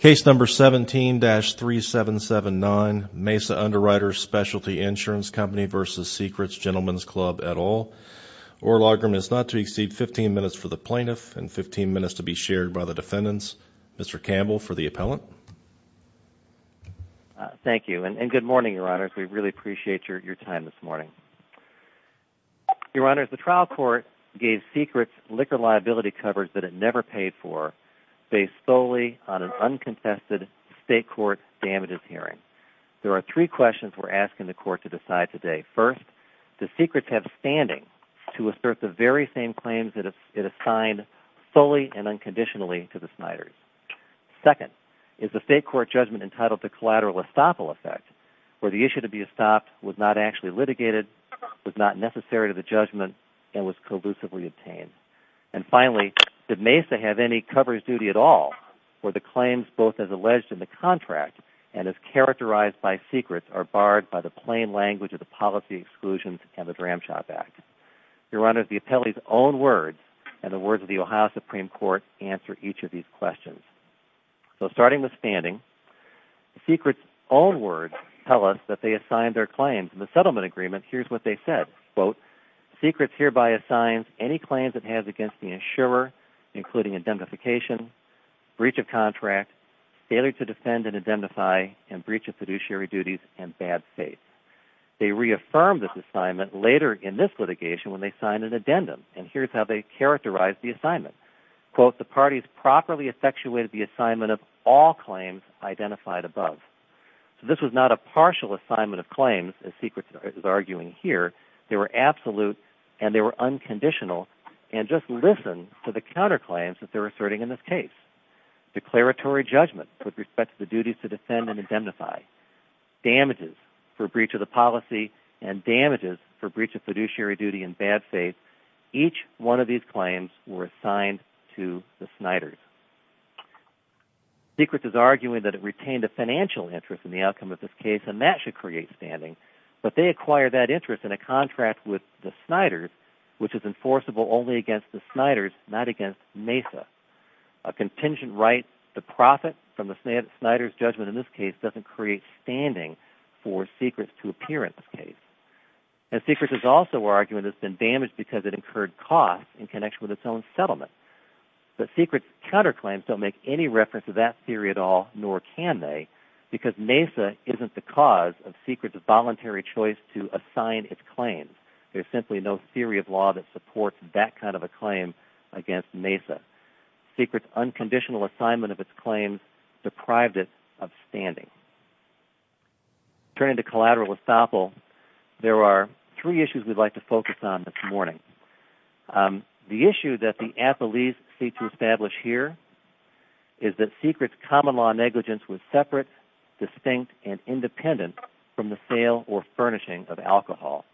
Case number 17-3779 Mesa Underwriters Specialty Insurance Company v. Secret's Gentleman's Club et al. Oral argument is not to exceed 15 minutes for the plaintiff and 15 minutes to be shared by the defendants. Mr. Campbell for the appellant. Thank you and good morning, Your Honors. We really appreciate your time this morning. Your Honors, the trial court gave Secret's liquor liability coverage that it never paid for based solely on an unconfessed state court damages hearing. There are three questions we're asking the court to decide today. First, does Secret's have standing to assert the very same claims that it assigned fully and unconditionally to the Sniders? Second, is the state court judgment entitled to collateral estoppel effect, where the issue to be estopped was not actually litigated, was not necessary to the judgment, and was collusively obtained? And finally, did Mesa have any coverage duty at all, where the claims both as alleged in the contract and as characterized by Secret's are barred by the plain language of the Policy Exclusions and the Dram Shop Act? Your Honors, the appellee's own words and the words of the Ohio Supreme Court answer each of these questions. So starting with standing, Secret's own words tell us that they assigned their claims. In the settlement agreement, here's what they said. Quote, Secret's hereby assigns any claims it has against the insurer, including indemnification, breach of contract, failure to defend and identify, and breach of fiduciary duties and bad faith. They reaffirmed this assignment later in this litigation when they signed an addendum, and here's how they characterized the assignment. Quote, the parties properly effectuated the assignment of all claims identified above. So this was not a partial assignment of claims, as Secret's is arguing here. They were absolute, and they were unconditional, and just listen to the counterclaims that they're asserting in this case. Declaratory judgment with respect to the duties to defend and indemnify, damages for breach of the policy, and damages for breach of fiduciary duty and bad faith. Each one of these claims were assigned to the Sniders. Secret's is arguing that it retained a financial interest in the outcome of this case, and that should create standing, but they acquired that interest in a contract with the Sniders, which is enforceable only against the Sniders, not against MESA. A contingent right to profit from the Snider's judgment in this case doesn't create standing for Secret's to appear in this case. And Secret's is also arguing it's been damaged because it incurred costs in connection with its own settlement. But Secret's counterclaims don't make any reference to that theory at all, nor can they, because MESA isn't the cause of Secret's voluntary choice to assign its claims. There's simply no theory of law that supports that kind of a claim against MESA. Secret's unconditional assignment of its claims deprived it of standing. Turning to collateral estoppel, there are three issues we'd like to focus on this morning. The issue that the athletes seek to establish here is that Secret's common law negligence was separate, distinct, and independent from the sale or furnishing of alcohol.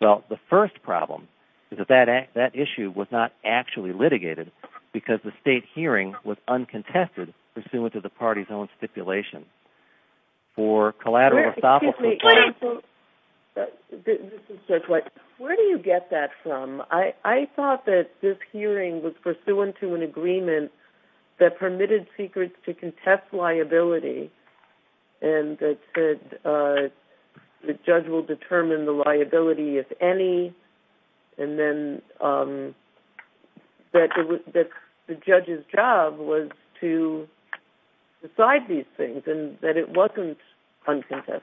Well, the first problem is that that issue was not actually litigated, because the state hearing was uncontested pursuant to the party's own stipulation. For collateral estoppel, the party... Where do you get that from? I thought that this hearing was pursuant to an agreement that permitted Secret to contest liability, and that said the judge will determine the liability if any, and then that the judge's job was to decide these things, and that it wasn't uncontested.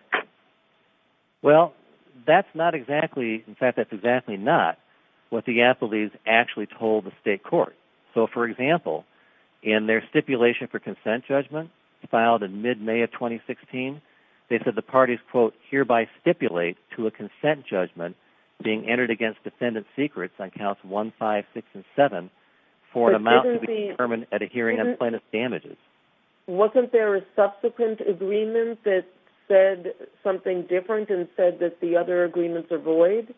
Well, that's not exactly... In fact, that's exactly not what the athletes actually told the state court. So, for example, in their stipulation for consent judgment, filed in mid-May of 2016, they said the parties, quote, hereby stipulate to a consent judgment being entered against defendant Secret's on counts 1, 5, 6, and 7 for an amount to be determined at a hearing and plaintiff's damages. Wasn't there a subsequent agreement that said something different and said that the other agreements are void?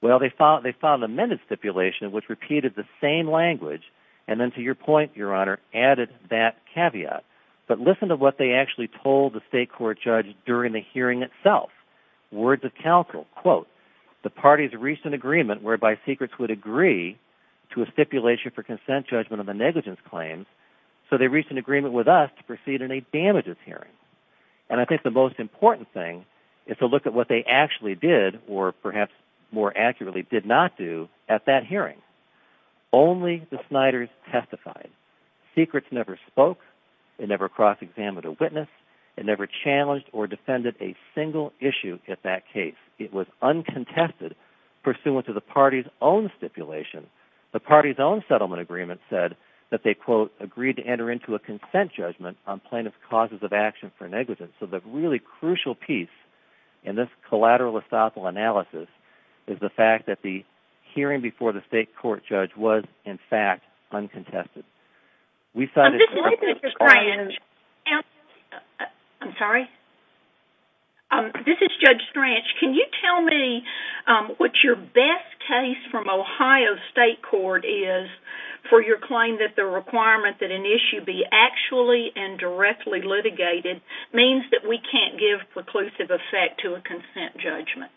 Well, they filed an amended stipulation which repeated the same language, and then, to your point, Your Honor, added that caveat. But listen to what they actually told the state court judge during the hearing itself. Words of counsel. Quote, the parties reached an agreement whereby Secret's would agree to a stipulation for consent judgment on the negligence claims, so they reached an agreement with us to proceed in a damages hearing. And I think the most important thing is to look at what they actually did, or perhaps more accurately did not do, at that hearing. Only the Sniders testified. Secret's never spoke. They never cross-examined a witness. They never challenged or defended a single issue at that case. It was uncontested pursuant to the party's own stipulation. The party's own settlement agreement said that they, quote, agreed to enter into a consent judgment on plaintiff's causes of action for negligence. So the really crucial piece in this collateral estoppel analysis is the fact that the hearing before the state court judge was, in fact, uncontested. This is Judge Strange. Can you tell me what your best case from Ohio State Court is for your claim that the requirement that an issue be actually and directly litigated means that we can't give preclusive effect to a consent judgment?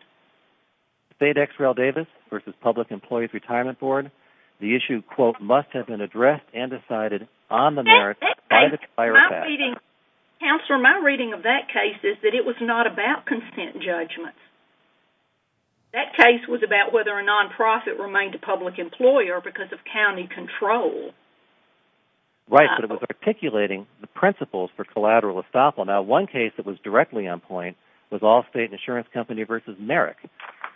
State X. Rel. Davis v. Public Employees Retirement Board. The issue, quote, must have been addressed and decided on the merits by the chiropractor. Counselor, my reading of that case is that it was not about consent judgments. That case was about whether a non-profit remained a public employer because of county control. Right, but it was articulating the principles for collateral estoppel. Now, one case that was directly on point was Allstate Insurance Company v. Merrick,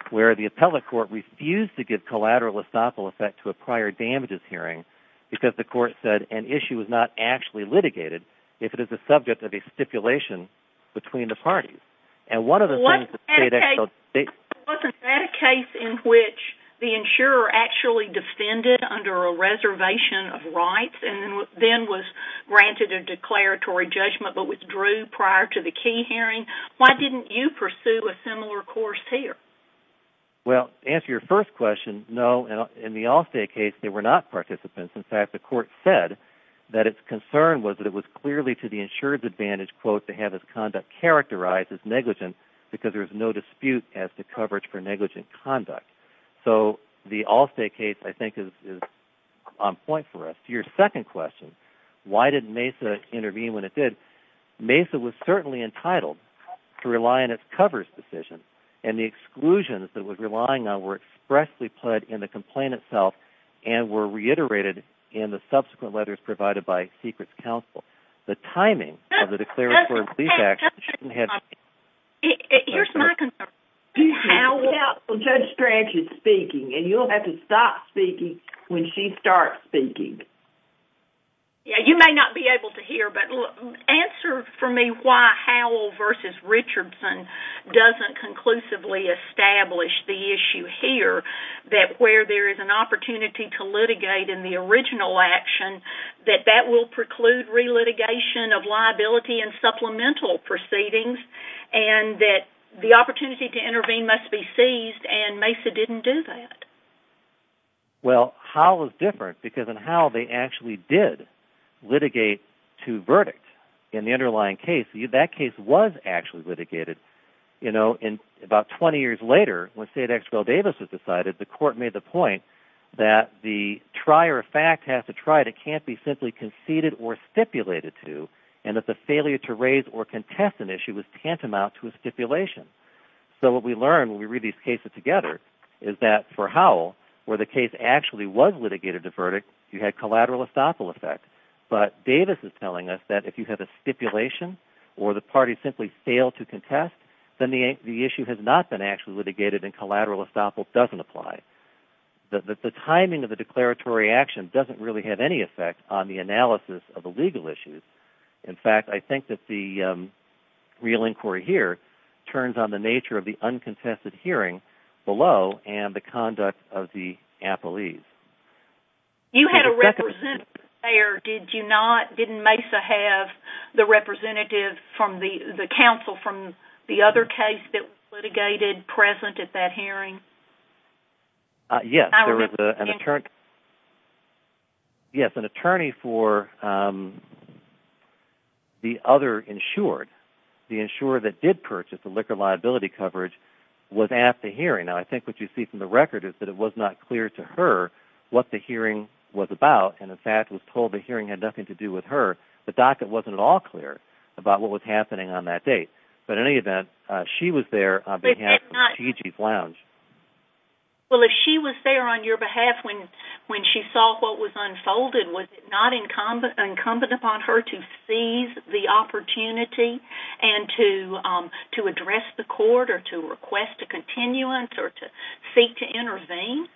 where the appellate court refused to give collateral estoppel effect to a prior damages hearing because the court said an issue was not actually litigated if it is the subject of a stipulation between the parties. Wasn't that a case in which the insurer actually defended under a reservation of rights and then was granted a declaratory judgment but withdrew prior to the key hearing? Why didn't you pursue a similar course here? Well, to answer your first question, no. In the Allstate case, they were not participants. In fact, the court said that its concern was that it was clearly to the insurer's advantage, quote, to have its conduct characterized as negligent because there is no dispute as to coverage for negligent conduct. So the Allstate case, I think, is on point for us. To your second question, why did MESA intervene when it did, MESA was certainly entitled to rely on its coverage decision, and the exclusions that it was relying on were expressly put in the complaint itself and were reiterated in the subsequent letters provided by Secrets and Counsel. The timing of the declaratory lease action shouldn't have... Here's my concern. Judge Strange is speaking, and you'll have to stop speaking when she starts speaking. You may not be able to hear, but answer for me why Howell v. Richardson doesn't conclusively establish the issue here, that where there is an opportunity to litigate in the original action, that that will preclude re-litigation of liability and supplemental proceedings, and that the opportunity to intervene must be seized, and MESA didn't do that. Well, Howell is different because in Howell they actually did litigate to verdict in the underlying case. That case was actually litigated. You know, about 20 years later, when State has to try it, it can't be simply conceded or stipulated to, and that the failure to raise or contest an issue is tantamount to a stipulation. So what we learn when we read these cases together is that for Howell, where the case actually was litigated to verdict, you had collateral estoppel effect, but Davis is telling us that if you have a stipulation or the party simply failed to contest, then the issue has not been actually litigated and collateral estoppel doesn't apply. The timing of the declaratory action doesn't really have any effect on the analysis of the legal issues. In fact, I think that the real inquiry here turns on the nature of the uncontested hearing below and the conduct of the appellees. You had a representative there, did you not? Didn't MESA have the representative from the other case that was litigated present at that hearing? Yes, there was an attorney for the other insured. The insurer that did purchase the liquor liability coverage was at the hearing. Now, I think what you see from the record is that it was not clear to her what the hearing was about, and in fact was told the hearing had nothing to do with her. The docket wasn't at all clear about what was happening on that date, but in any event, she was there on behalf of the Chief Lounge. Well, if she was there on your behalf when she saw what was unfolded, was it not incumbent upon her to seize the opportunity and to address the court or to request a continuance or to seek to intervene?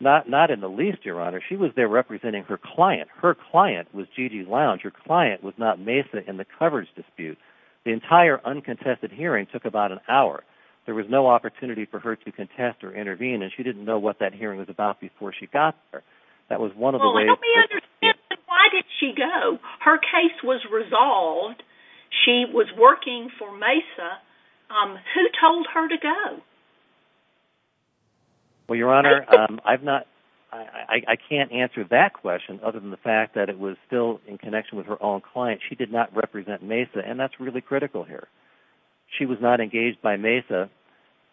Not in the least, Your Honor. She was there representing her client. Her client was G.G. Lounge. Her client was not MESA in the coverage dispute. The entire uncontested hearing took about an hour. There was no opportunity for her to contest or intervene, and she didn't know what that hearing was about before she got there. That was one of the ways... Well, help me understand. Why did she go? Her case was resolved. She was working for MESA. Who told her to go? Well, Your Honor, I've not... I can't answer that question other than the fact that it was still in connection with her own client. She did not represent MESA, and that's really critical here. She was not engaged by MESA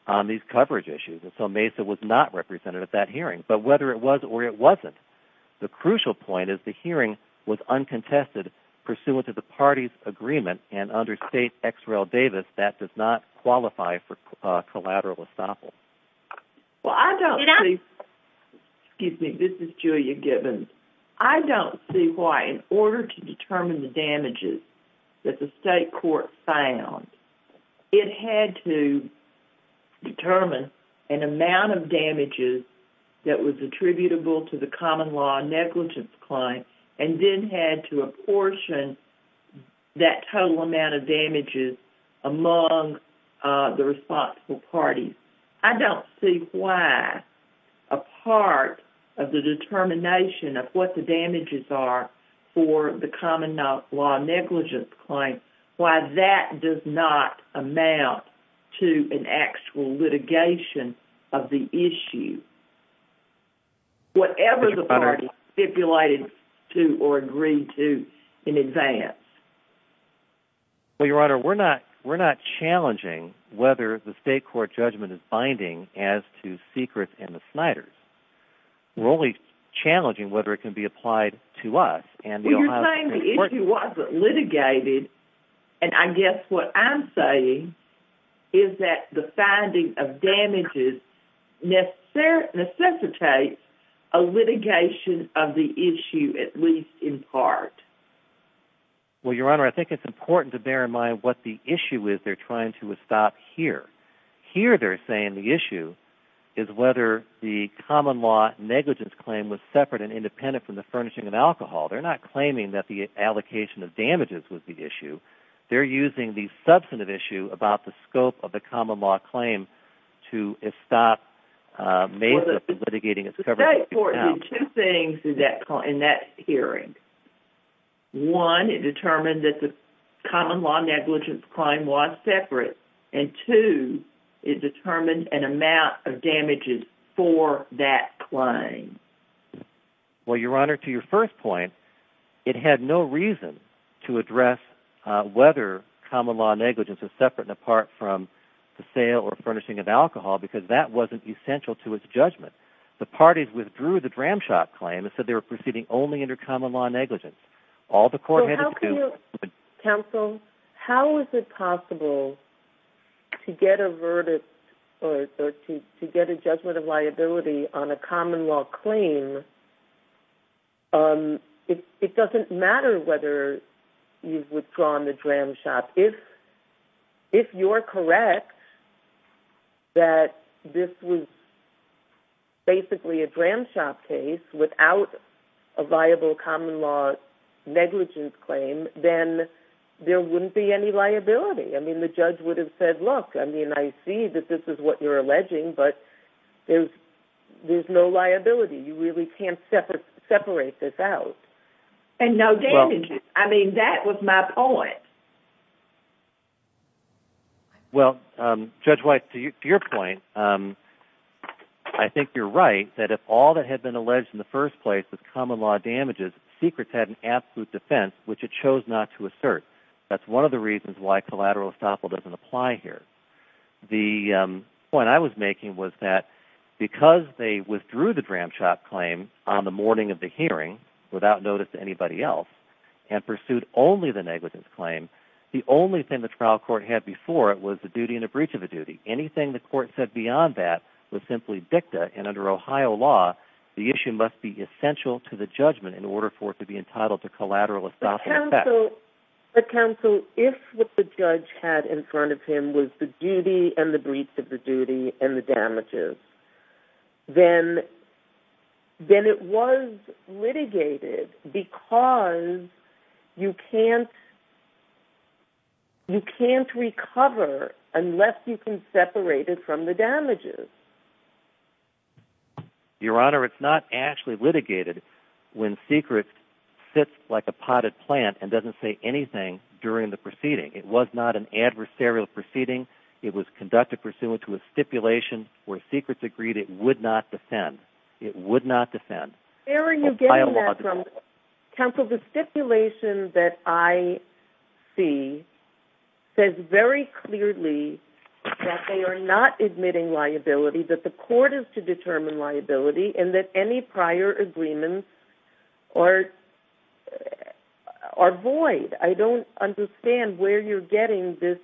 on these coverage issues, and so MESA was not represented at that hearing. But whether it was or it wasn't, the crucial point is the hearing was uncontested pursuant to the party's agreement, and under state XREL Davis, that does not qualify for collateral estoppel. Well, I don't see... Excuse me. This is Julia Gibbons. I don't see why, in order to determine the damages that the state court found, it had to determine an amount of damages that was attributable to the common law negligence claim and then had to apportion that total amount of damages among the responsible parties. I don't see why a part of the determination of what the damages are for the common law negligence claim, why that does not amount to an actual litigation of the state court's judgment. Well, Your Honor, we're not challenging whether the state court judgment is binding as to secrets in the Sniders. We're only challenging whether it can be applied to us. Well, you're saying the issue wasn't litigated, and I guess what I'm saying is that the finding of damages necessitates a litigation of the issue, at least in part. Well, Your Honor, I think it's important to bear in mind what the issue is they're trying to estop here. Here, they're saying the issue is whether the common law negligence claim was separate and independent from the furnishing of alcohol. They're not claiming that the allocation of damages was the issue. They're using the substantive issue about the scope of the common law claim to estop Mesa from litigating its coverage. The state court did two things in that hearing. One, it determined that the common law negligence claim was separate, and two, it determined an amount of damages for that claim. Well, Your Honor, to your first question, I think the common law negligence is separate and apart from the sale or furnishing of alcohol, because that wasn't essential to its judgment. The parties withdrew the Dramshock claim and said they were proceeding only under common law negligence. All the court had to do... Counsel, how is it possible to get a verdict or to get a judgment of liability on a common law claim It doesn't matter whether you've withdrawn the Dramshock. If you're correct that this was basically a Dramshock case without a viable common law negligence claim, then there wouldn't be any liability. The judge would have said, look, I see that this is what you're alleging, but there's no liability. You really can't separate this out. And no damages. I mean, that was my point. Well, Judge White, to your point, I think you're right, that if all that had been alleged in the first place was common law damages, Secrets had an absolute defense, which it chose not to The point I was making was that because they withdrew the Dramshock claim on the morning of the hearing, without notice to anybody else, and pursued only the negligence claim, the only thing the trial court had before it was the duty and a breach of the duty. Anything the court said beyond that was simply dicta, and under Ohio law, the issue must be essential to the judgment in order for it to be entitled to collateral estoppel effect. But counsel, if what the judge had in front of him was the duty and the breach of the duty and the damages, then it was litigated because you can't recover unless you can separate it from the damages. Your Honor, it's not actually litigated when Secrets sits like a potted plant and doesn't say anything during the proceeding. It was not an adversarial proceeding. It was conducted pursuant to a stipulation where Secrets agreed it would not defend. It would not defend. Where are you getting that from? Counsel, the stipulation that I see says very clearly that they are not admitting liability, that the court is to determine liability, and that any prior agreements are void. I don't understand where you're getting this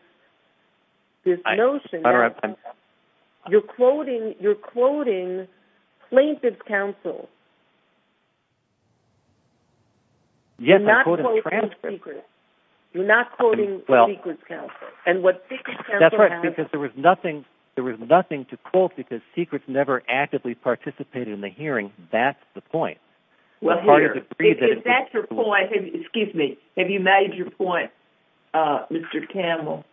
notion. You're quoting plaintiff's counsel. Yes, I'm quoting transcripts. You're not quoting Secrets counsel. There was nothing to quote because Secrets never actively participated in the hearing. That's the point. Have you made your point, Mr. Campbell?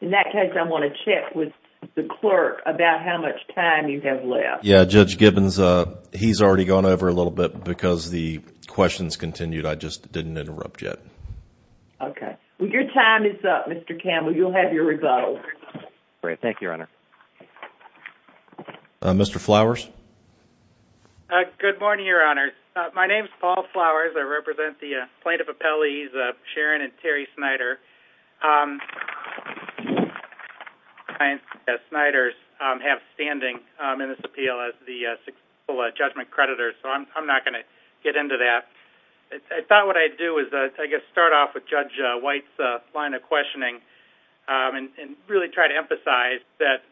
In that case, I want to check with the clerk about how much time you have left. Judge Gibbons, he's already gone over a little bit because the questions continued. I just didn't interrupt yet. Your time is up, Mr. Campbell. You'll have your rebuttal. Thank you, Your Honor. Mr. Flowers? Good morning, Your Honor. My name is Paul Flowers. I represent the plaintiff appellees, Sharon and Terry Snyder. Snyder's have standing in this appeal as the successful judgment creditors, so I'm not going to get into that. I thought what I'd do is start off with Judge White's line of questioning and really try to emphasize that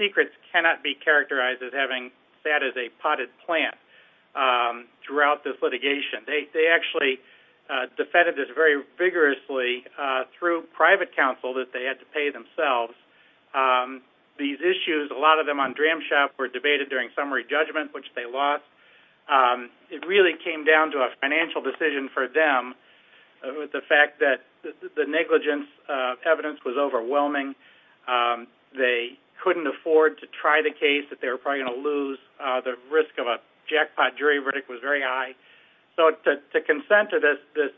Secrets cannot be negligent. They actually defended this very vigorously through private counsel that they had to pay themselves. These issues, a lot of them on DramShop were debated during summary judgment, which they lost. It really came down to a financial decision for them with the fact that the negligence evidence was overwhelming. They couldn't afford to try the case that they were probably going to lose. The risk of a jackpot jury verdict was very high. To consent to this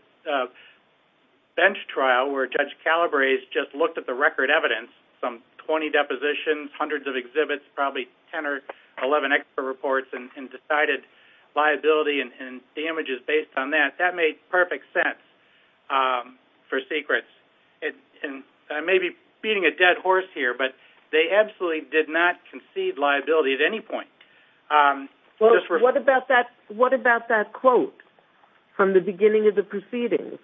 bench trial where Judge Calabrese just looked at the record evidence, some 20 depositions, hundreds of exhibits, probably 10 or 11 extra reports and decided liability and damages based on that, that made perfect sense for Secrets. I may be beating a dead horse here, but they absolutely did not concede liability at any point. What about that quote from the beginning of the proceedings?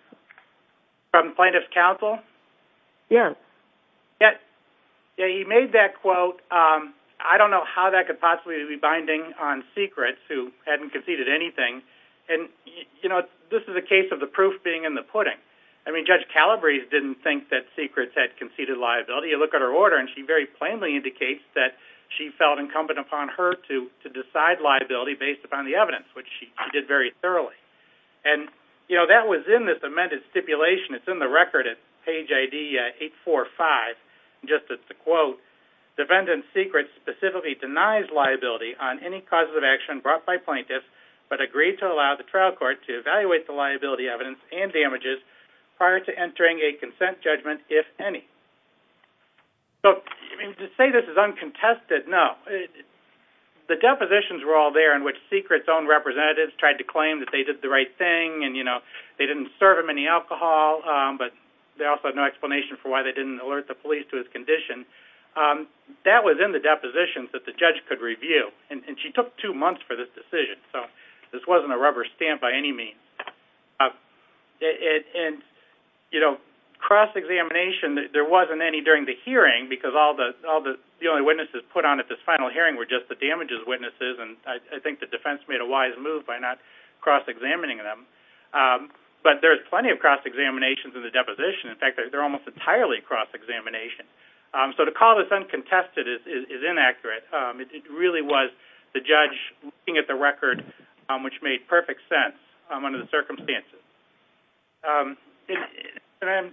From plaintiff's counsel? Yes. He made that quote. I don't know how that could possibly be binding on Secrets who hadn't conceded liability. This is a case of the proof being in the pudding. Judge Calabrese didn't think that Secrets had conceded liability. You look at her order and she very plainly indicates that she felt incumbent upon her to decide liability based upon the evidence, which she did very thoroughly. That was in this amended stipulation. It's in the record at page ID 845. Just at the quote, defendant Secrets specifically denies liability on any causes of action brought by plaintiffs, but agreed to allow the trial court to evaluate the liability evidence and damages prior to entering a consent judgment, if any. To say this is uncontested, no. The depositions were all there in which Secrets' own representatives tried to claim that they did the right thing and they didn't serve him any alcohol, but they also had no explanation for why they didn't alert the defense. She took two months for this decision. This wasn't a rubber stamp by any means. Cross-examination, there wasn't any during the hearing because the only witnesses put on at this final hearing were just the damages witnesses. I think the defense made a wise move by not cross-examining them. There's plenty of cross-examinations in the deposition. In fact, they're almost entirely cross-examination. So to call this uncontested is inaccurate. It really was the judge looking at the record, which made perfect sense under the circumstances. As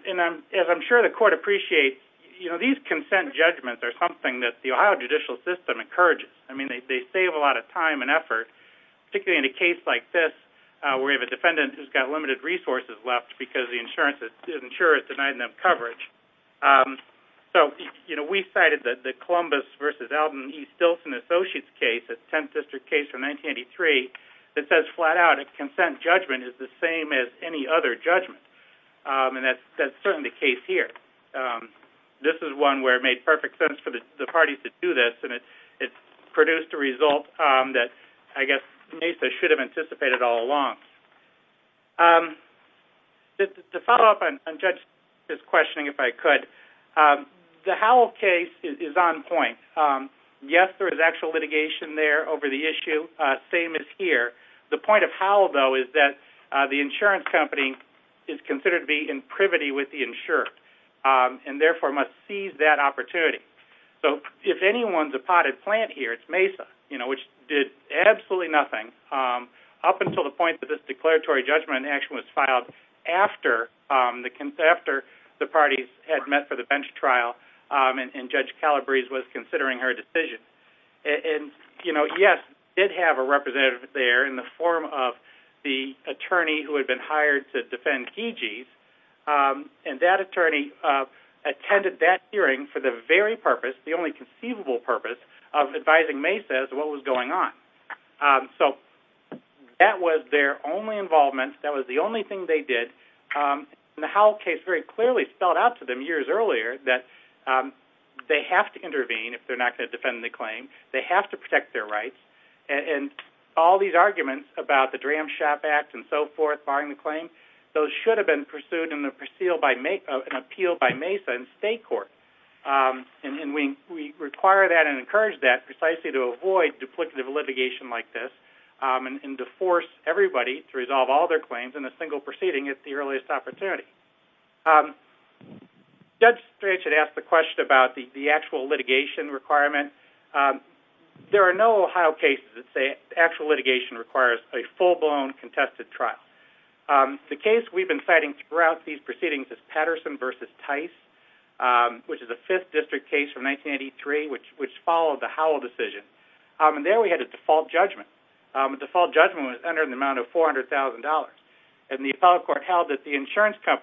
I'm sure the court appreciates, these consent judgments are something that the Ohio judicial system encourages. They save a lot of time and effort, particularly in a case like this where you have a defendant who's got limited resources left because the insurer has denied them coverage. We cited the Columbus v. Elden E. Stilson Associates case, a 10th District case from 1983, that says flat out a consent judgment is the same as any other judgment. That's certainly the case here. This is one where it made perfect sense for the parties to do this, and it produced a result that I guess MESA should have anticipated all along. To follow up on Judge's questioning, if I could, the Howell case is on point. Yes, there is actual litigation there over the issue, same as here. The point of Howell, though, is that the insurance company is considered to be in privity with the insurer, and therefore must seize that opportunity. If anyone's a potted plant here, it's MESA, which did absolutely nothing up until the point that this declaratory judgment action was filed after the parties had met for the bench trial and Judge Calabrese was considering her decision. Yes, it did have a representative there in the form of the attorney who had been hired to defend Keegees, and that attorney attended that hearing for the very purpose, the only conceivable purpose, of advising MESA as to what was going on. That was their only involvement. That was the only thing they did. The Howell case very clearly spelled out to them years earlier that they have to intervene if they're not going to defend the claim. They have to protect their rights. All these arguments about the Dram Shop Act and so forth barring the claim, those should have been pursued in an appeal by MESA in state court. We require that and encourage that precisely to avoid duplicative litigation like this and to force everybody to resolve all their claims in a single proceeding at the earliest opportunity. Judge Strachan asked the question about the litigation requirement. There are no Ohio cases that say actual litigation requires a full-blown contested trial. The case we've been citing throughout these proceedings is Patterson v. Tice, which is a 5th district case from 1983, which followed the Howell decision. There we had a default judgment. The default judgment was under the amount of $400,000. The appellate court held that the insurance court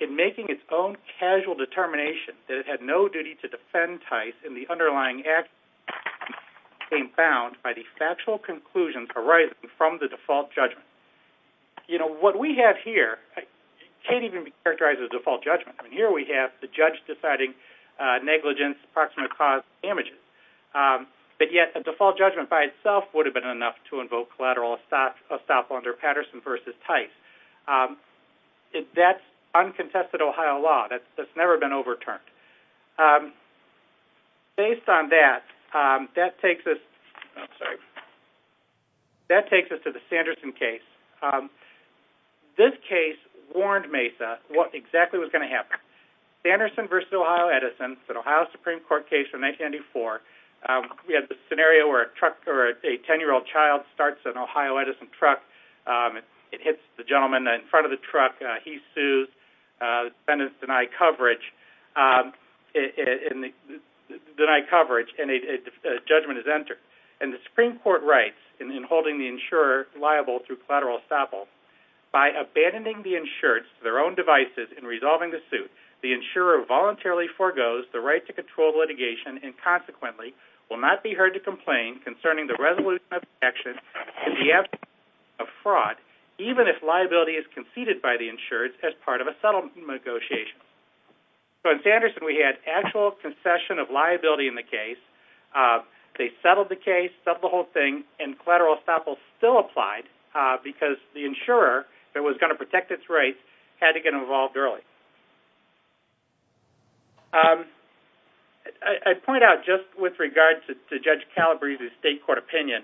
in making its own casual determination that it had no duty to defend Tice in the underlying act was bound by the factual conclusions arising from the default judgment. What we have here can't even be characterized as a default judgment. Here we have the judge deciding negligence, approximate cause of damages. Yet a default judgment by itself would have been enough to invoke collateral estoppel under Patterson v. Tice. That's uncontested Ohio law. That's never been overturned. Based on that, that takes us to the Sanderson case. This case warned Mesa what exactly was going to happen. Sanderson v. Ohio Edison, an Ohio Supreme Court case from 1984. We had the scenario where a 10-year-old child starts an Ohio Edison truck. It hits the gentleman in front of the truck. He sues. Defendants deny coverage. The judgment is entered. The Supreme Court writes in holding the insurer liable through collateral estoppel, by abandoning the insured to their own devices in resolving the suit, the insurer voluntarily foregoes the right to control litigation and consequently will not be heard to complain concerning the resolution of action in the absence of fraud, even if liability is conceded by the insured as part of a settlement negotiation. In Sanderson, we had actual concession of liability in the case. They settled the case, settled the whole thing, and collateral and the insurer that was going to protect its rights had to get involved early. I point out just with regard to Judge Calabrese's state court opinion,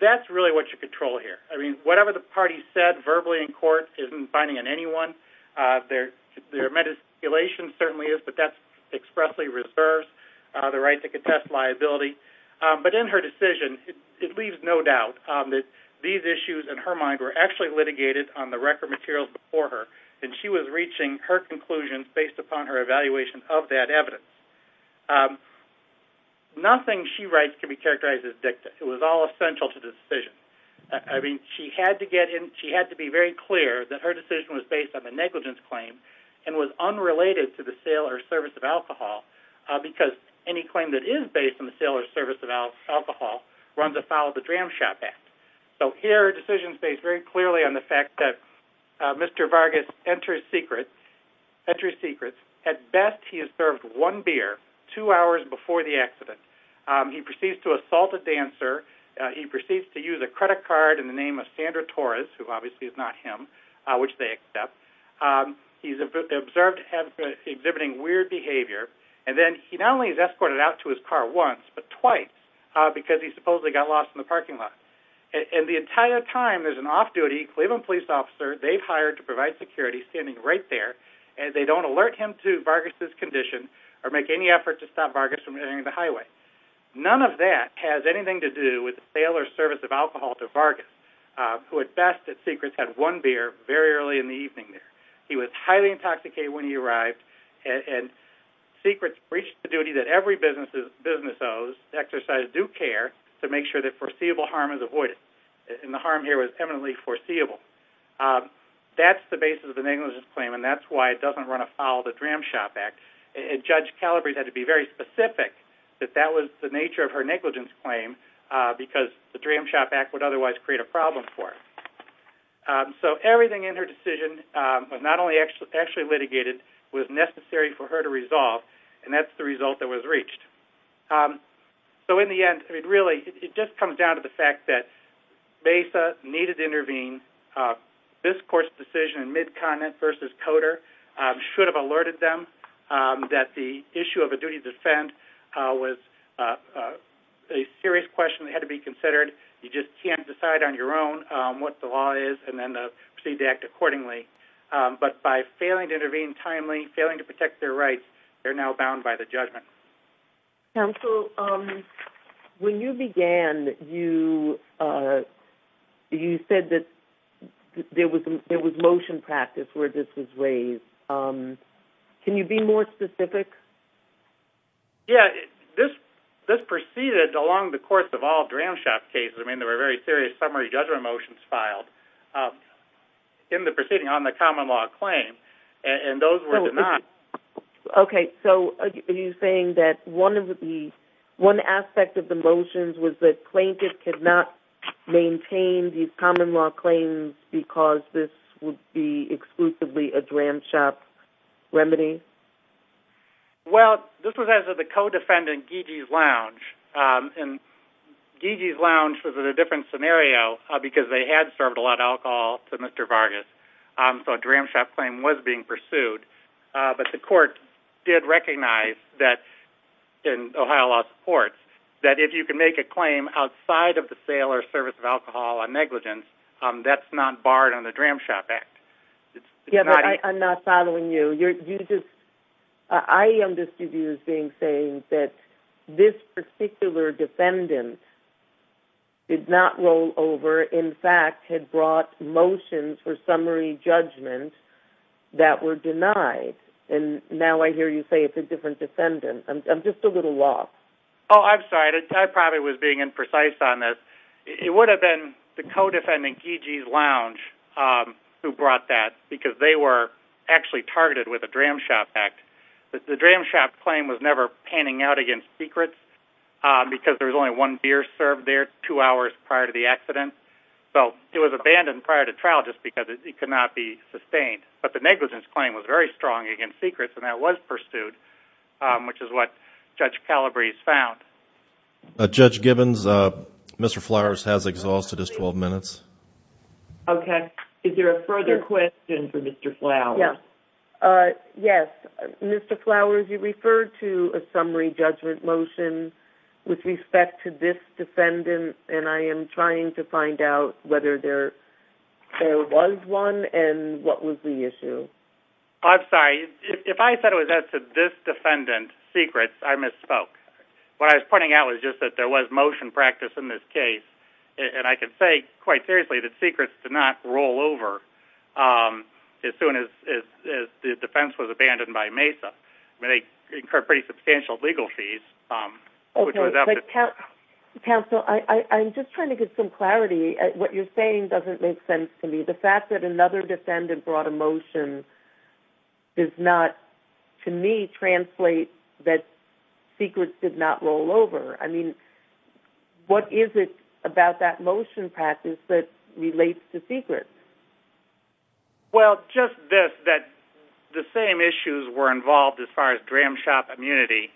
that's really what you control here. Whatever the party said verbally in court isn't binding on anyone. Their mediation certainly is, but that's expressly reserved. The right to control issue in her mind were actually litigated on the record materials before her, and she was reaching her conclusions based upon her evaluation of that evidence. Nothing she writes can be characterized as dicta. It was all essential to the decision. She had to be very clear that her decision was based on the negligence claim and was unrelated to the sale or service of alcohol because any claim that is made to the insurer is a negligence claim. Her decision is based very clearly on the fact that Mr. Vargas enters secrets. At best, he has served one beer two hours before the accident. He proceeds to assault a dancer. He proceeds to use a credit card in the name of Sandra Torres, who obviously is not him, which they accept. He's observed exhibiting weird behavior, and then he not only is an off-duty Cleveland police officer, they've hired to provide security standing right there, and they don't alert him to Vargas's condition or make any effort to stop Vargas from entering the highway. None of that has anything to do with the sale or service of alcohol to Vargas, who at best at secrets had one beer very early in the evening. He was highly intoxicated when he arrived, and secrets reached the duty that every business owes to exercise due care to make sure that foreseeable harm is avoided. The harm here was eminently foreseeable. That's the basis of the negligence claim, and that's why it doesn't run afoul of the Dram Shop Act. Judge Calabrese had to be very specific that that was the nature of her negligence claim because the Dram Shop Act would otherwise create a problem for her. Everything in her decision was not only necessary for her to resolve, and that's the result that was reached. In the end, it really just comes down to the fact that MESA needed to intervene. This court's decision in Mid-Continent v. Coder should have alerted them that the issue of a duty to defend was a serious question that had to be considered. You just can't decide on your own what the law is and then proceed to act accordingly, but by failing to intervene timely, failing to protect their rights, they're now bound by the judgment. Counsel, when you began, you said that there was motion practice where this was raised. Can you be more specific? This proceeded along the course of all Dram Shop cases. There were very serious summary judgment motions filed in the proceeding on the common law claim, and those were denied. Are you saying that one aspect of the motions was that plaintiffs could not maintain these common law claims because this would be exclusively a Dram Shop remedy? Well, this was as of the co-defendant Gigi's Lounge. Gigi's Lounge was a different scenario because they had served a lot of alcohol to Mr. Vargas, so a Dram Shop claim was being pursued. But the court did recognize that in Ohio law's courts, that if you can make a claim outside of the sale or service of alcohol a negligence, that's not barred on the Dram Shop Act. I'm not following you. I understood you as being saying that this particular defendant did not roll over, in fact, had brought motions for summary judgment that were denied. And now I hear you say it's a different defendant. I'm just a little lost. Oh, I'm sorry. I probably was being imprecise on this. It would have been the co-defendant Gigi's Lounge who brought that because they were actually targeted with a Dram Shop Act. The Dram Shop claim was never panning out against secrets because there was only one beer served there two hours prior to the accident. So it was abandoned prior to trial just because it could not be sustained. But the negligence claim was very strong against secrets and that was pursued, which is what Judge Calabrese found. Judge Gibbons, Mr. Flowers has exhausted his 12 minutes. Okay. Is there a further question for Mr. Flowers? Yes. Mr. Flowers, you referred to a summary judgment motion with respect to this one and what was the issue? I'm sorry. If I said it was as to this defendant's secrets, I misspoke. What I was pointing out was just that there was motion practice in this case. And I can say quite seriously that secrets did not roll over as soon as the defense was abandoned by MESA. They incur pretty substantial legal fees. Okay. Counsel, I'm just trying to get some clarity. What you're saying doesn't make sense to me. The fact that another defendant brought a motion does not to me translate that secrets did not roll over. I mean, what is it about that motion practice that relates to secrets? Well, just this, the same issues were involved as far as dram shop immunity.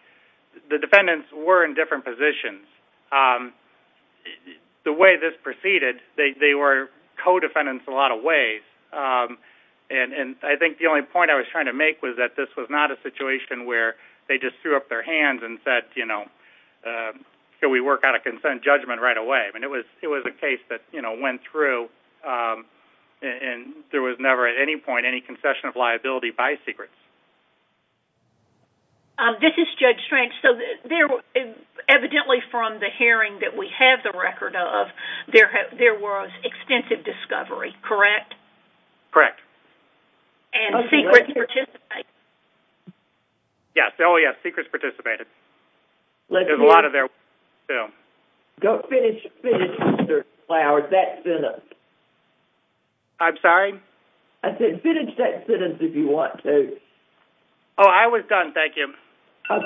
The defendants were in different positions. The way this proceeded, they were co-defendants a lot of ways. And I think the only point I was trying to make was that this was not a situation where they just threw up their hands and said, you know, can we work out a consent judgment right away? And it was a case that went through and there was never at any point any concession of liability by secrets. This is Judge Strange. Evidently from the hearing that we have the record of, there was extensive discovery, correct? Correct. And secrets participated? Yes, secrets participated. There's a lot of there. Finish that sentence. I'm sorry? I said finish that sentence if you want to. Oh, I was done. Thank you. I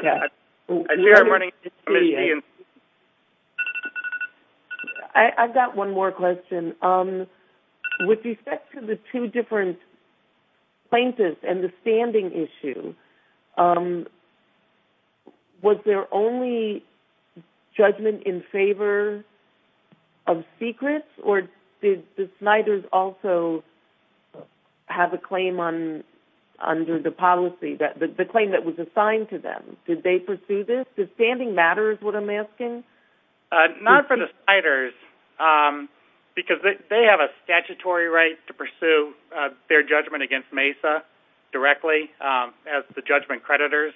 see I'm running out of time. I've got one more question. With respect to the two different plaintiffs and the standing issue, was there only judgment in favor of secrets or did the Sniders also have a claim under the policy, the claim that was assigned to them? Did they pursue this? Does standing matter is what I'm asking? Not for the Sniders because they have a statutory right to pursue their judgment against MESA directly as the judgment creditors.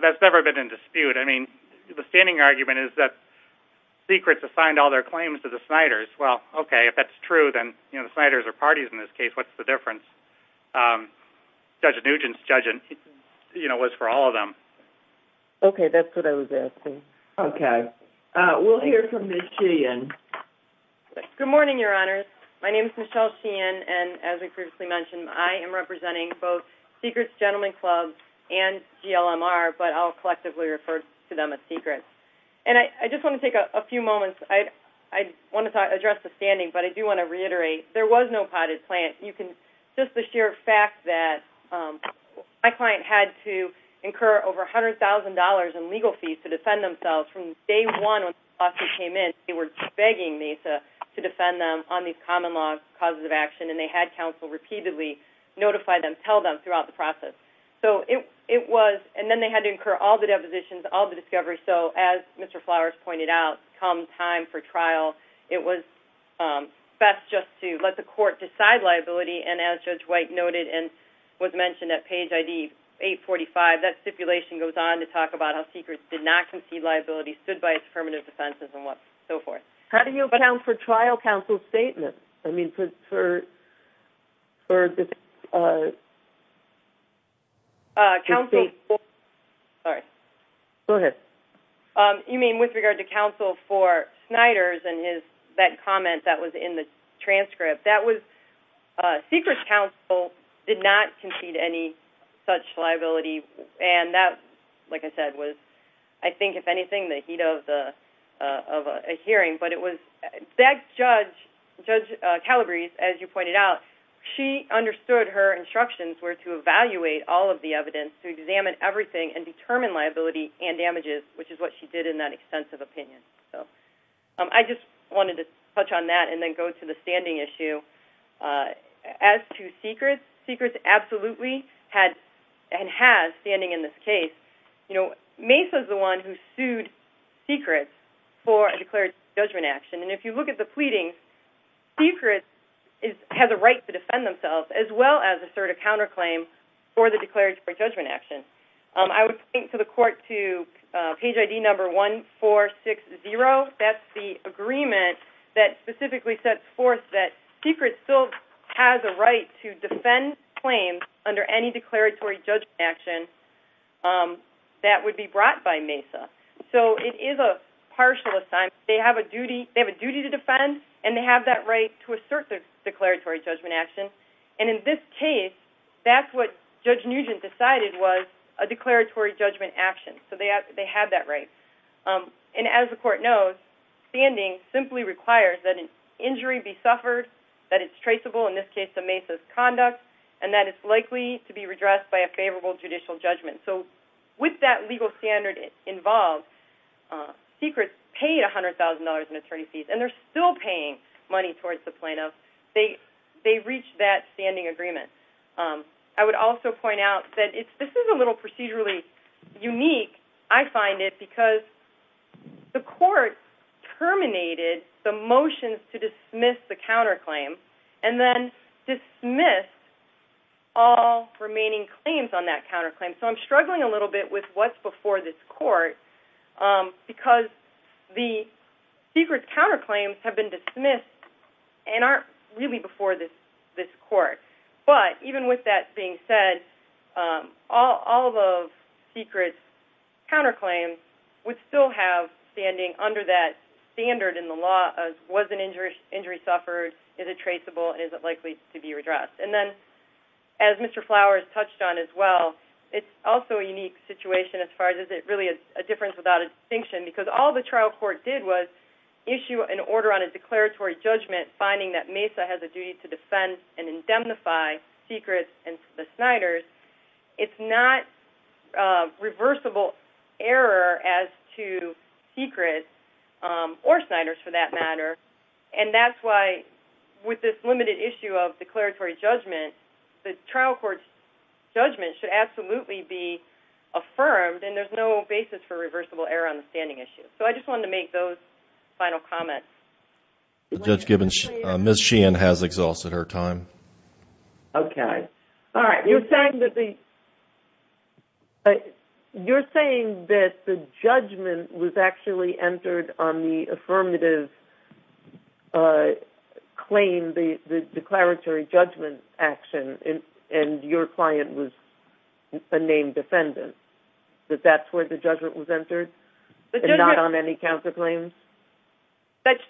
That's never been in dispute. I mean, the standing argument is that secrets assigned all their claims to the Sniders. Well, okay, if that's true, then the Sniders are parties in this case. What's the difference? Judge Nugent's judgment was for all of them. Okay, that's what I was asking. Okay. We'll hear from Ms. Sheehan. Good morning, Your Honors. My name is Michelle Sheehan, and as we previously mentioned, I am representing both Secrets Gentlemen Club and GLMR, but I'll collectively refer to them as Secrets. And I just want to take a few moments. I want to address the standing, but I do want to reiterate there was no potted plant. Just the sheer fact that my client had to incur over $100,000 in legal fees to defend themselves from day one when the lawsuit came in. They were begging MESA to defend them on these common law causes of action, and they had counsel repeatedly notify them, tell them throughout the process. And then they had to incur all the depositions, all the discoveries. So as Mr. Flowers pointed out, when it did come time for trial, it was best just to let the court decide liability. And as Judge White noted and was mentioned at page ID 845, that stipulation goes on to talk about how Secrets did not concede liability, stood by its affirmative defenses, and so forth. How do you account for trial counsel's statement? I mean, with regard to counsel for Snyder's and that comment that was in the transcript, that was Secrets counsel did not concede any such liability. And that, like I said, was I think if anything the heat of a hearing. But Judge Calabrese, as you pointed out, she understood her instructions were to evaluate all of the evidence, to examine everything, and determine liability and damages, which is what she did in that extensive opinion. I just wanted to touch on that and then go to the standing issue. As to Secrets, Secrets absolutely had and has standing in this case. Mace was the one who sued Secrets for a declaratory judgment action. And if you look at the pleadings, Secrets has a right to defend themselves as well as assert a counterclaim for the declaratory judgment action. I would point to the court to page ID number 1460. That's the agreement that specifically sets forth that Secrets still has a right to defend claims under any declaratory judgment action that would be brought by Mace. So it is a partial assignment. They have a duty to defend and they have that right to assert their declaratory judgment action. And in this case, that's what Judge Nugent decided was a declaratory judgment action. So they had that right. And as the court knows, standing simply requires that an injury be suffered, that it's traceable, in this case to Mace's conduct, and that it's likely to be redressed by a favorable judicial judgment. With that legal standard involved, Secrets paid $100,000 in attorney fees and they're still paying money towards the plaintiff. They reached that standing agreement. I would also point out that this is a little procedurally unique, I find it, because the court terminated the motions to dismiss the counterclaim and then dismissed all remaining claims on that counterclaim. So I'm struggling a little bit with what's before this court because the Secrets counterclaims have been dismissed and aren't really before this court. So the law still has standing under that standard in the law of, was an injury suffered, is it traceable, and is it likely to be redressed? And then as Mr. Flowers touched on as well, it's also a unique situation as far as it really is a difference without a distinction because all the trial court did was issue an order on a declaratory judgment, finding that Mesa has a duty to defend and reversible error as to Secrets or Snyders for that matter. And that's why with this limited issue of declaratory judgment, the trial court's judgment should absolutely be affirmed and there's no basis for reversible error on the standing issue. So I just wanted to make those final comments. Judge Gibbons, Ms. Sheehan has exhausted her time. Okay. All right. You're saying that the judgment was actually entered on the affirmative claim, the declaratory judgment action, and your client was a named defendant, that that's where the judgment was entered and not on any counterclaims? That's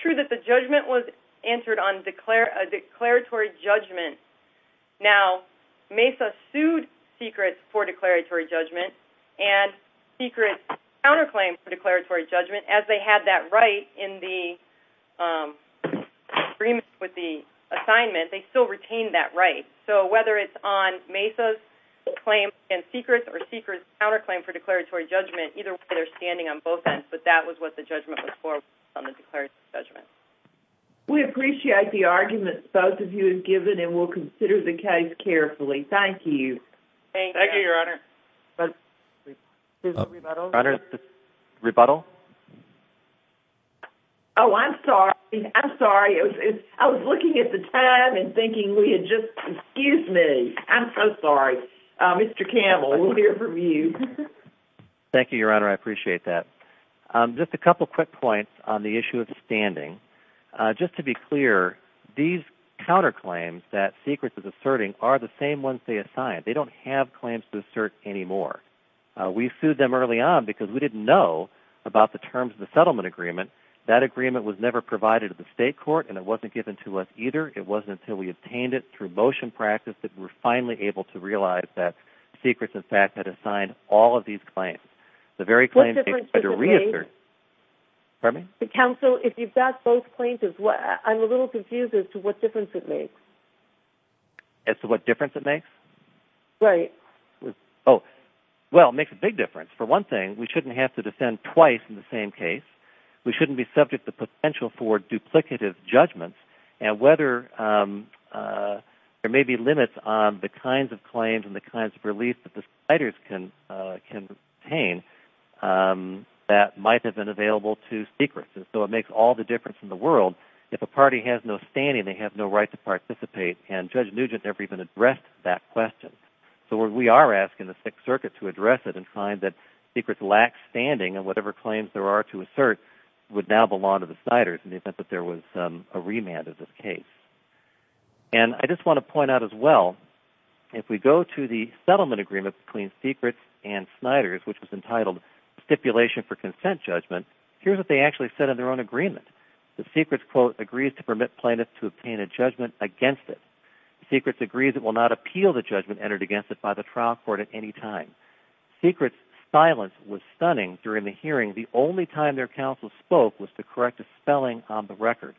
true that the judgment was entered on a declaratory judgment. Now Mesa sued Secrets for declaratory judgment and Secrets' counterclaim for declaratory judgment, as they had that right in the agreement with the assignment, they still retained that right. So whether it's on Mesa's claim against Secrets or Secrets' counterclaim for declaratory judgment, either way they're standing on both ends. But that was what the judgment was for on the declaratory judgment. We appreciate the argument both of you have given and we'll consider the case carefully. Thank you. Thank you, Your Honor. Rebuttal? Oh, I'm sorry. I'm sorry. I was looking at the time and thinking we were going to hear from you. Thank you, Your Honor. I appreciate that. Just a couple quick points on the issue of standing. Just to be clear, these counterclaims that Secrets is asserting are the same ones they assigned. They don't have claims to assert anymore. We sued them early on because we didn't know about the terms of the settlement agreement. That agreement was never provided to the state court and it wasn't given to us either. It wasn't until we obtained it through motion practice that we were finally able to realize that Secrets, in fact, had assigned all of these claims. The very claims that you reasserted... What difference does it make? Pardon me? Counsel, if you've got both claims as well, I'm a little confused as to what difference it makes. As to what difference it makes? Right. Well, it makes a big difference. For one thing, we shouldn't have to defend twice in the same case. We shouldn't be subject to the potential for duplicative judgments and whether there may be limits on the kinds of claims and the kinds of relief that the citers can obtain that might have been available to Secrets. It makes all the difference in the world. If a party has no standing, they have no right to participate. Judge Nugent never even addressed that question. We are asking the Sixth Circuit to address it and find that Secrets lacks standing and whatever claims there are to assert would now belong to the Sniders in the event that there was a remand of this case. I just want to point out as well, if we go to the settlement agreement between Secrets and Sniders, which was entitled, Stipulation for Consent Judgment, here's what they actually said in their own agreement. The Secrets quote, agrees to permit plaintiffs to obtain a judgment against it. Secrets agrees it will not appeal the judgment entered against it by the trial court at any time. Secrets' silence was stunning during the hearing. The only time their counsel spoke was to correct a spelling on the record.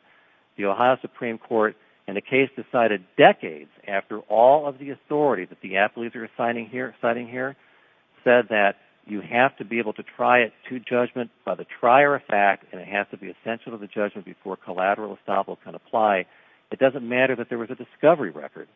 The Ohio Supreme Court in the case decided decades after all of the authority that the athletes are citing here said that you have to be able to try it to judgment by the trier of fact and it has to be essential to the judgment before collateral estoppel can apply. It doesn't matter that there was a discovery record.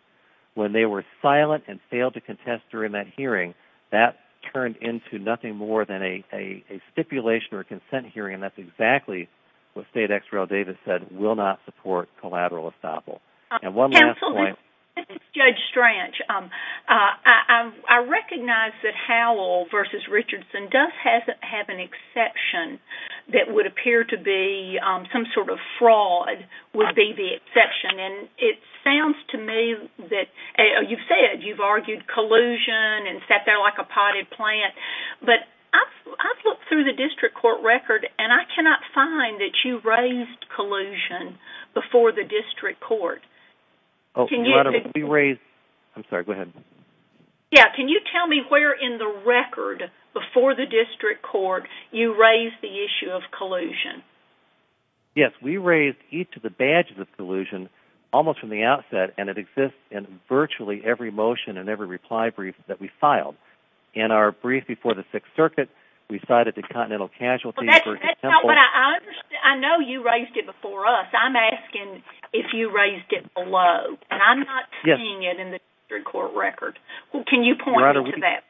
When they were silent and failed to contest during that hearing, that turned into nothing more than a stipulation or a consent hearing and that's exactly what State Exeral Davis said, will not support collateral estoppel. Judge Strach, I recognize that there appears to be some sort of fraud would be the exception and it sounds to me that you've said you've argued collusion and sat there like a potted plant, but I've looked through the district court record and I cannot find that you raised collusion before the district court. Can you tell me where in the record before the district court you raised the issue of collusion? Yes, we raised each of the badges of collusion almost from the outset and it exists in virtually every motion and every reply brief that we filed. In our brief before the Sixth Circuit, we cited the continental casualties. I know you raised it before us. I'm asking if you raised it below and I'm not seeing it in the district court record. Can you point me to that?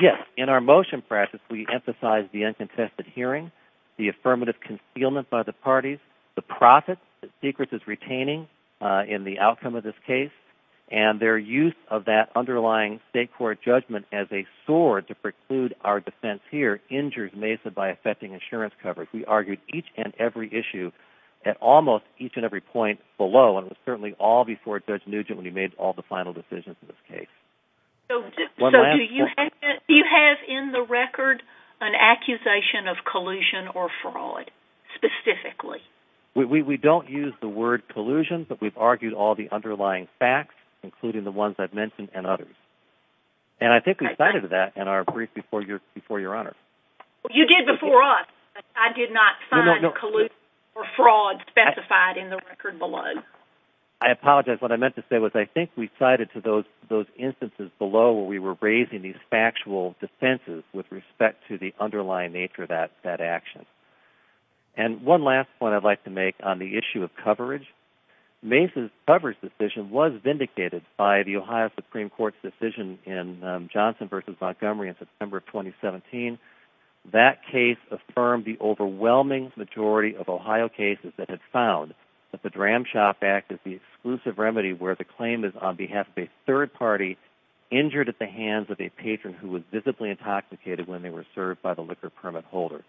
Yes, in our motion practice we emphasize the uncontested hearing, the affirmative concealment by the parties, the profits that Secret is retaining in the outcome of this case and their use of that underlying state court judgment as a sword to preclude our defense here injures Mesa by affecting insurance coverage. We argued each and every issue at almost each and every point below and it was certainly all before Judge Nugent when he made all the final decisions in this case. Do you have in the record an accusation of collusion or fraud specifically? We don't use the word collusion, but we've argued all the underlying facts, including the ones I've mentioned and others. And I think we cited that in our brief before Your Honor. You did before us. I did not find collusion or fraud specified in the record below. I apologize. What I meant to say was I think we cited to those instances below where we were raising these factual defenses with respect to the underlying nature of that action. And one last point I'd like to make on the issue of coverage. Mesa's coverage decision was vindicated by the Ohio Supreme Court's decision in Johnson v. Montgomery in September 2017. That case affirmed the overwhelming majority of Ohio cases that had found that the Dram Shop Act is the exclusive remedy where the claim is on behalf of a third party injured at the hands of a patron who was visibly intoxicated when they were served by the liquor permit holder.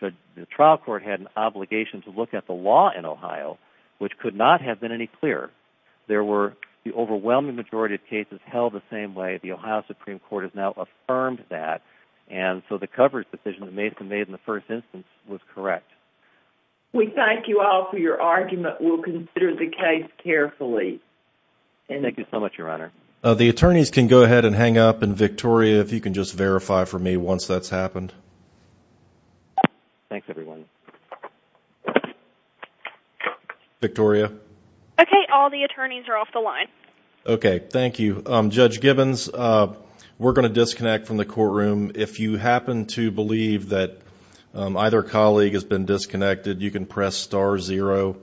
The trial court had an obligation to look at the law in Ohio, which could not have been any clearer. There were the overwhelming majority of cases held the same way. The Ohio Supreme Court has now affirmed that. And so the coverage decision that Mesa made in the first instance was correct. We thank you all for your argument. We'll consider the case carefully. Thank you so much, Your Honor. The attorneys can go ahead and hang up. And Victoria, if you can just verify for me once that's happened. Thanks, everyone. Victoria? Okay. All the attorneys are off the line. Okay. Thank you. Judge Gibbons, we're going to disconnect from the courtroom. If you happen to believe that either colleague has been disconnected, you can press star zero and hang up.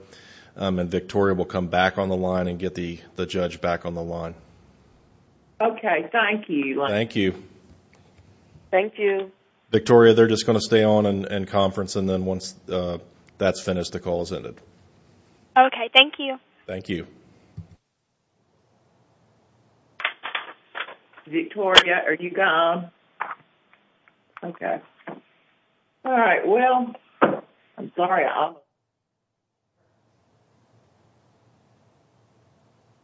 Okay. Thank you. Thank you. Victoria, they're just going to stay on and conference. And then once that's finished, the call is ended. Okay. Thank you. Thank you. Victoria, are you gone?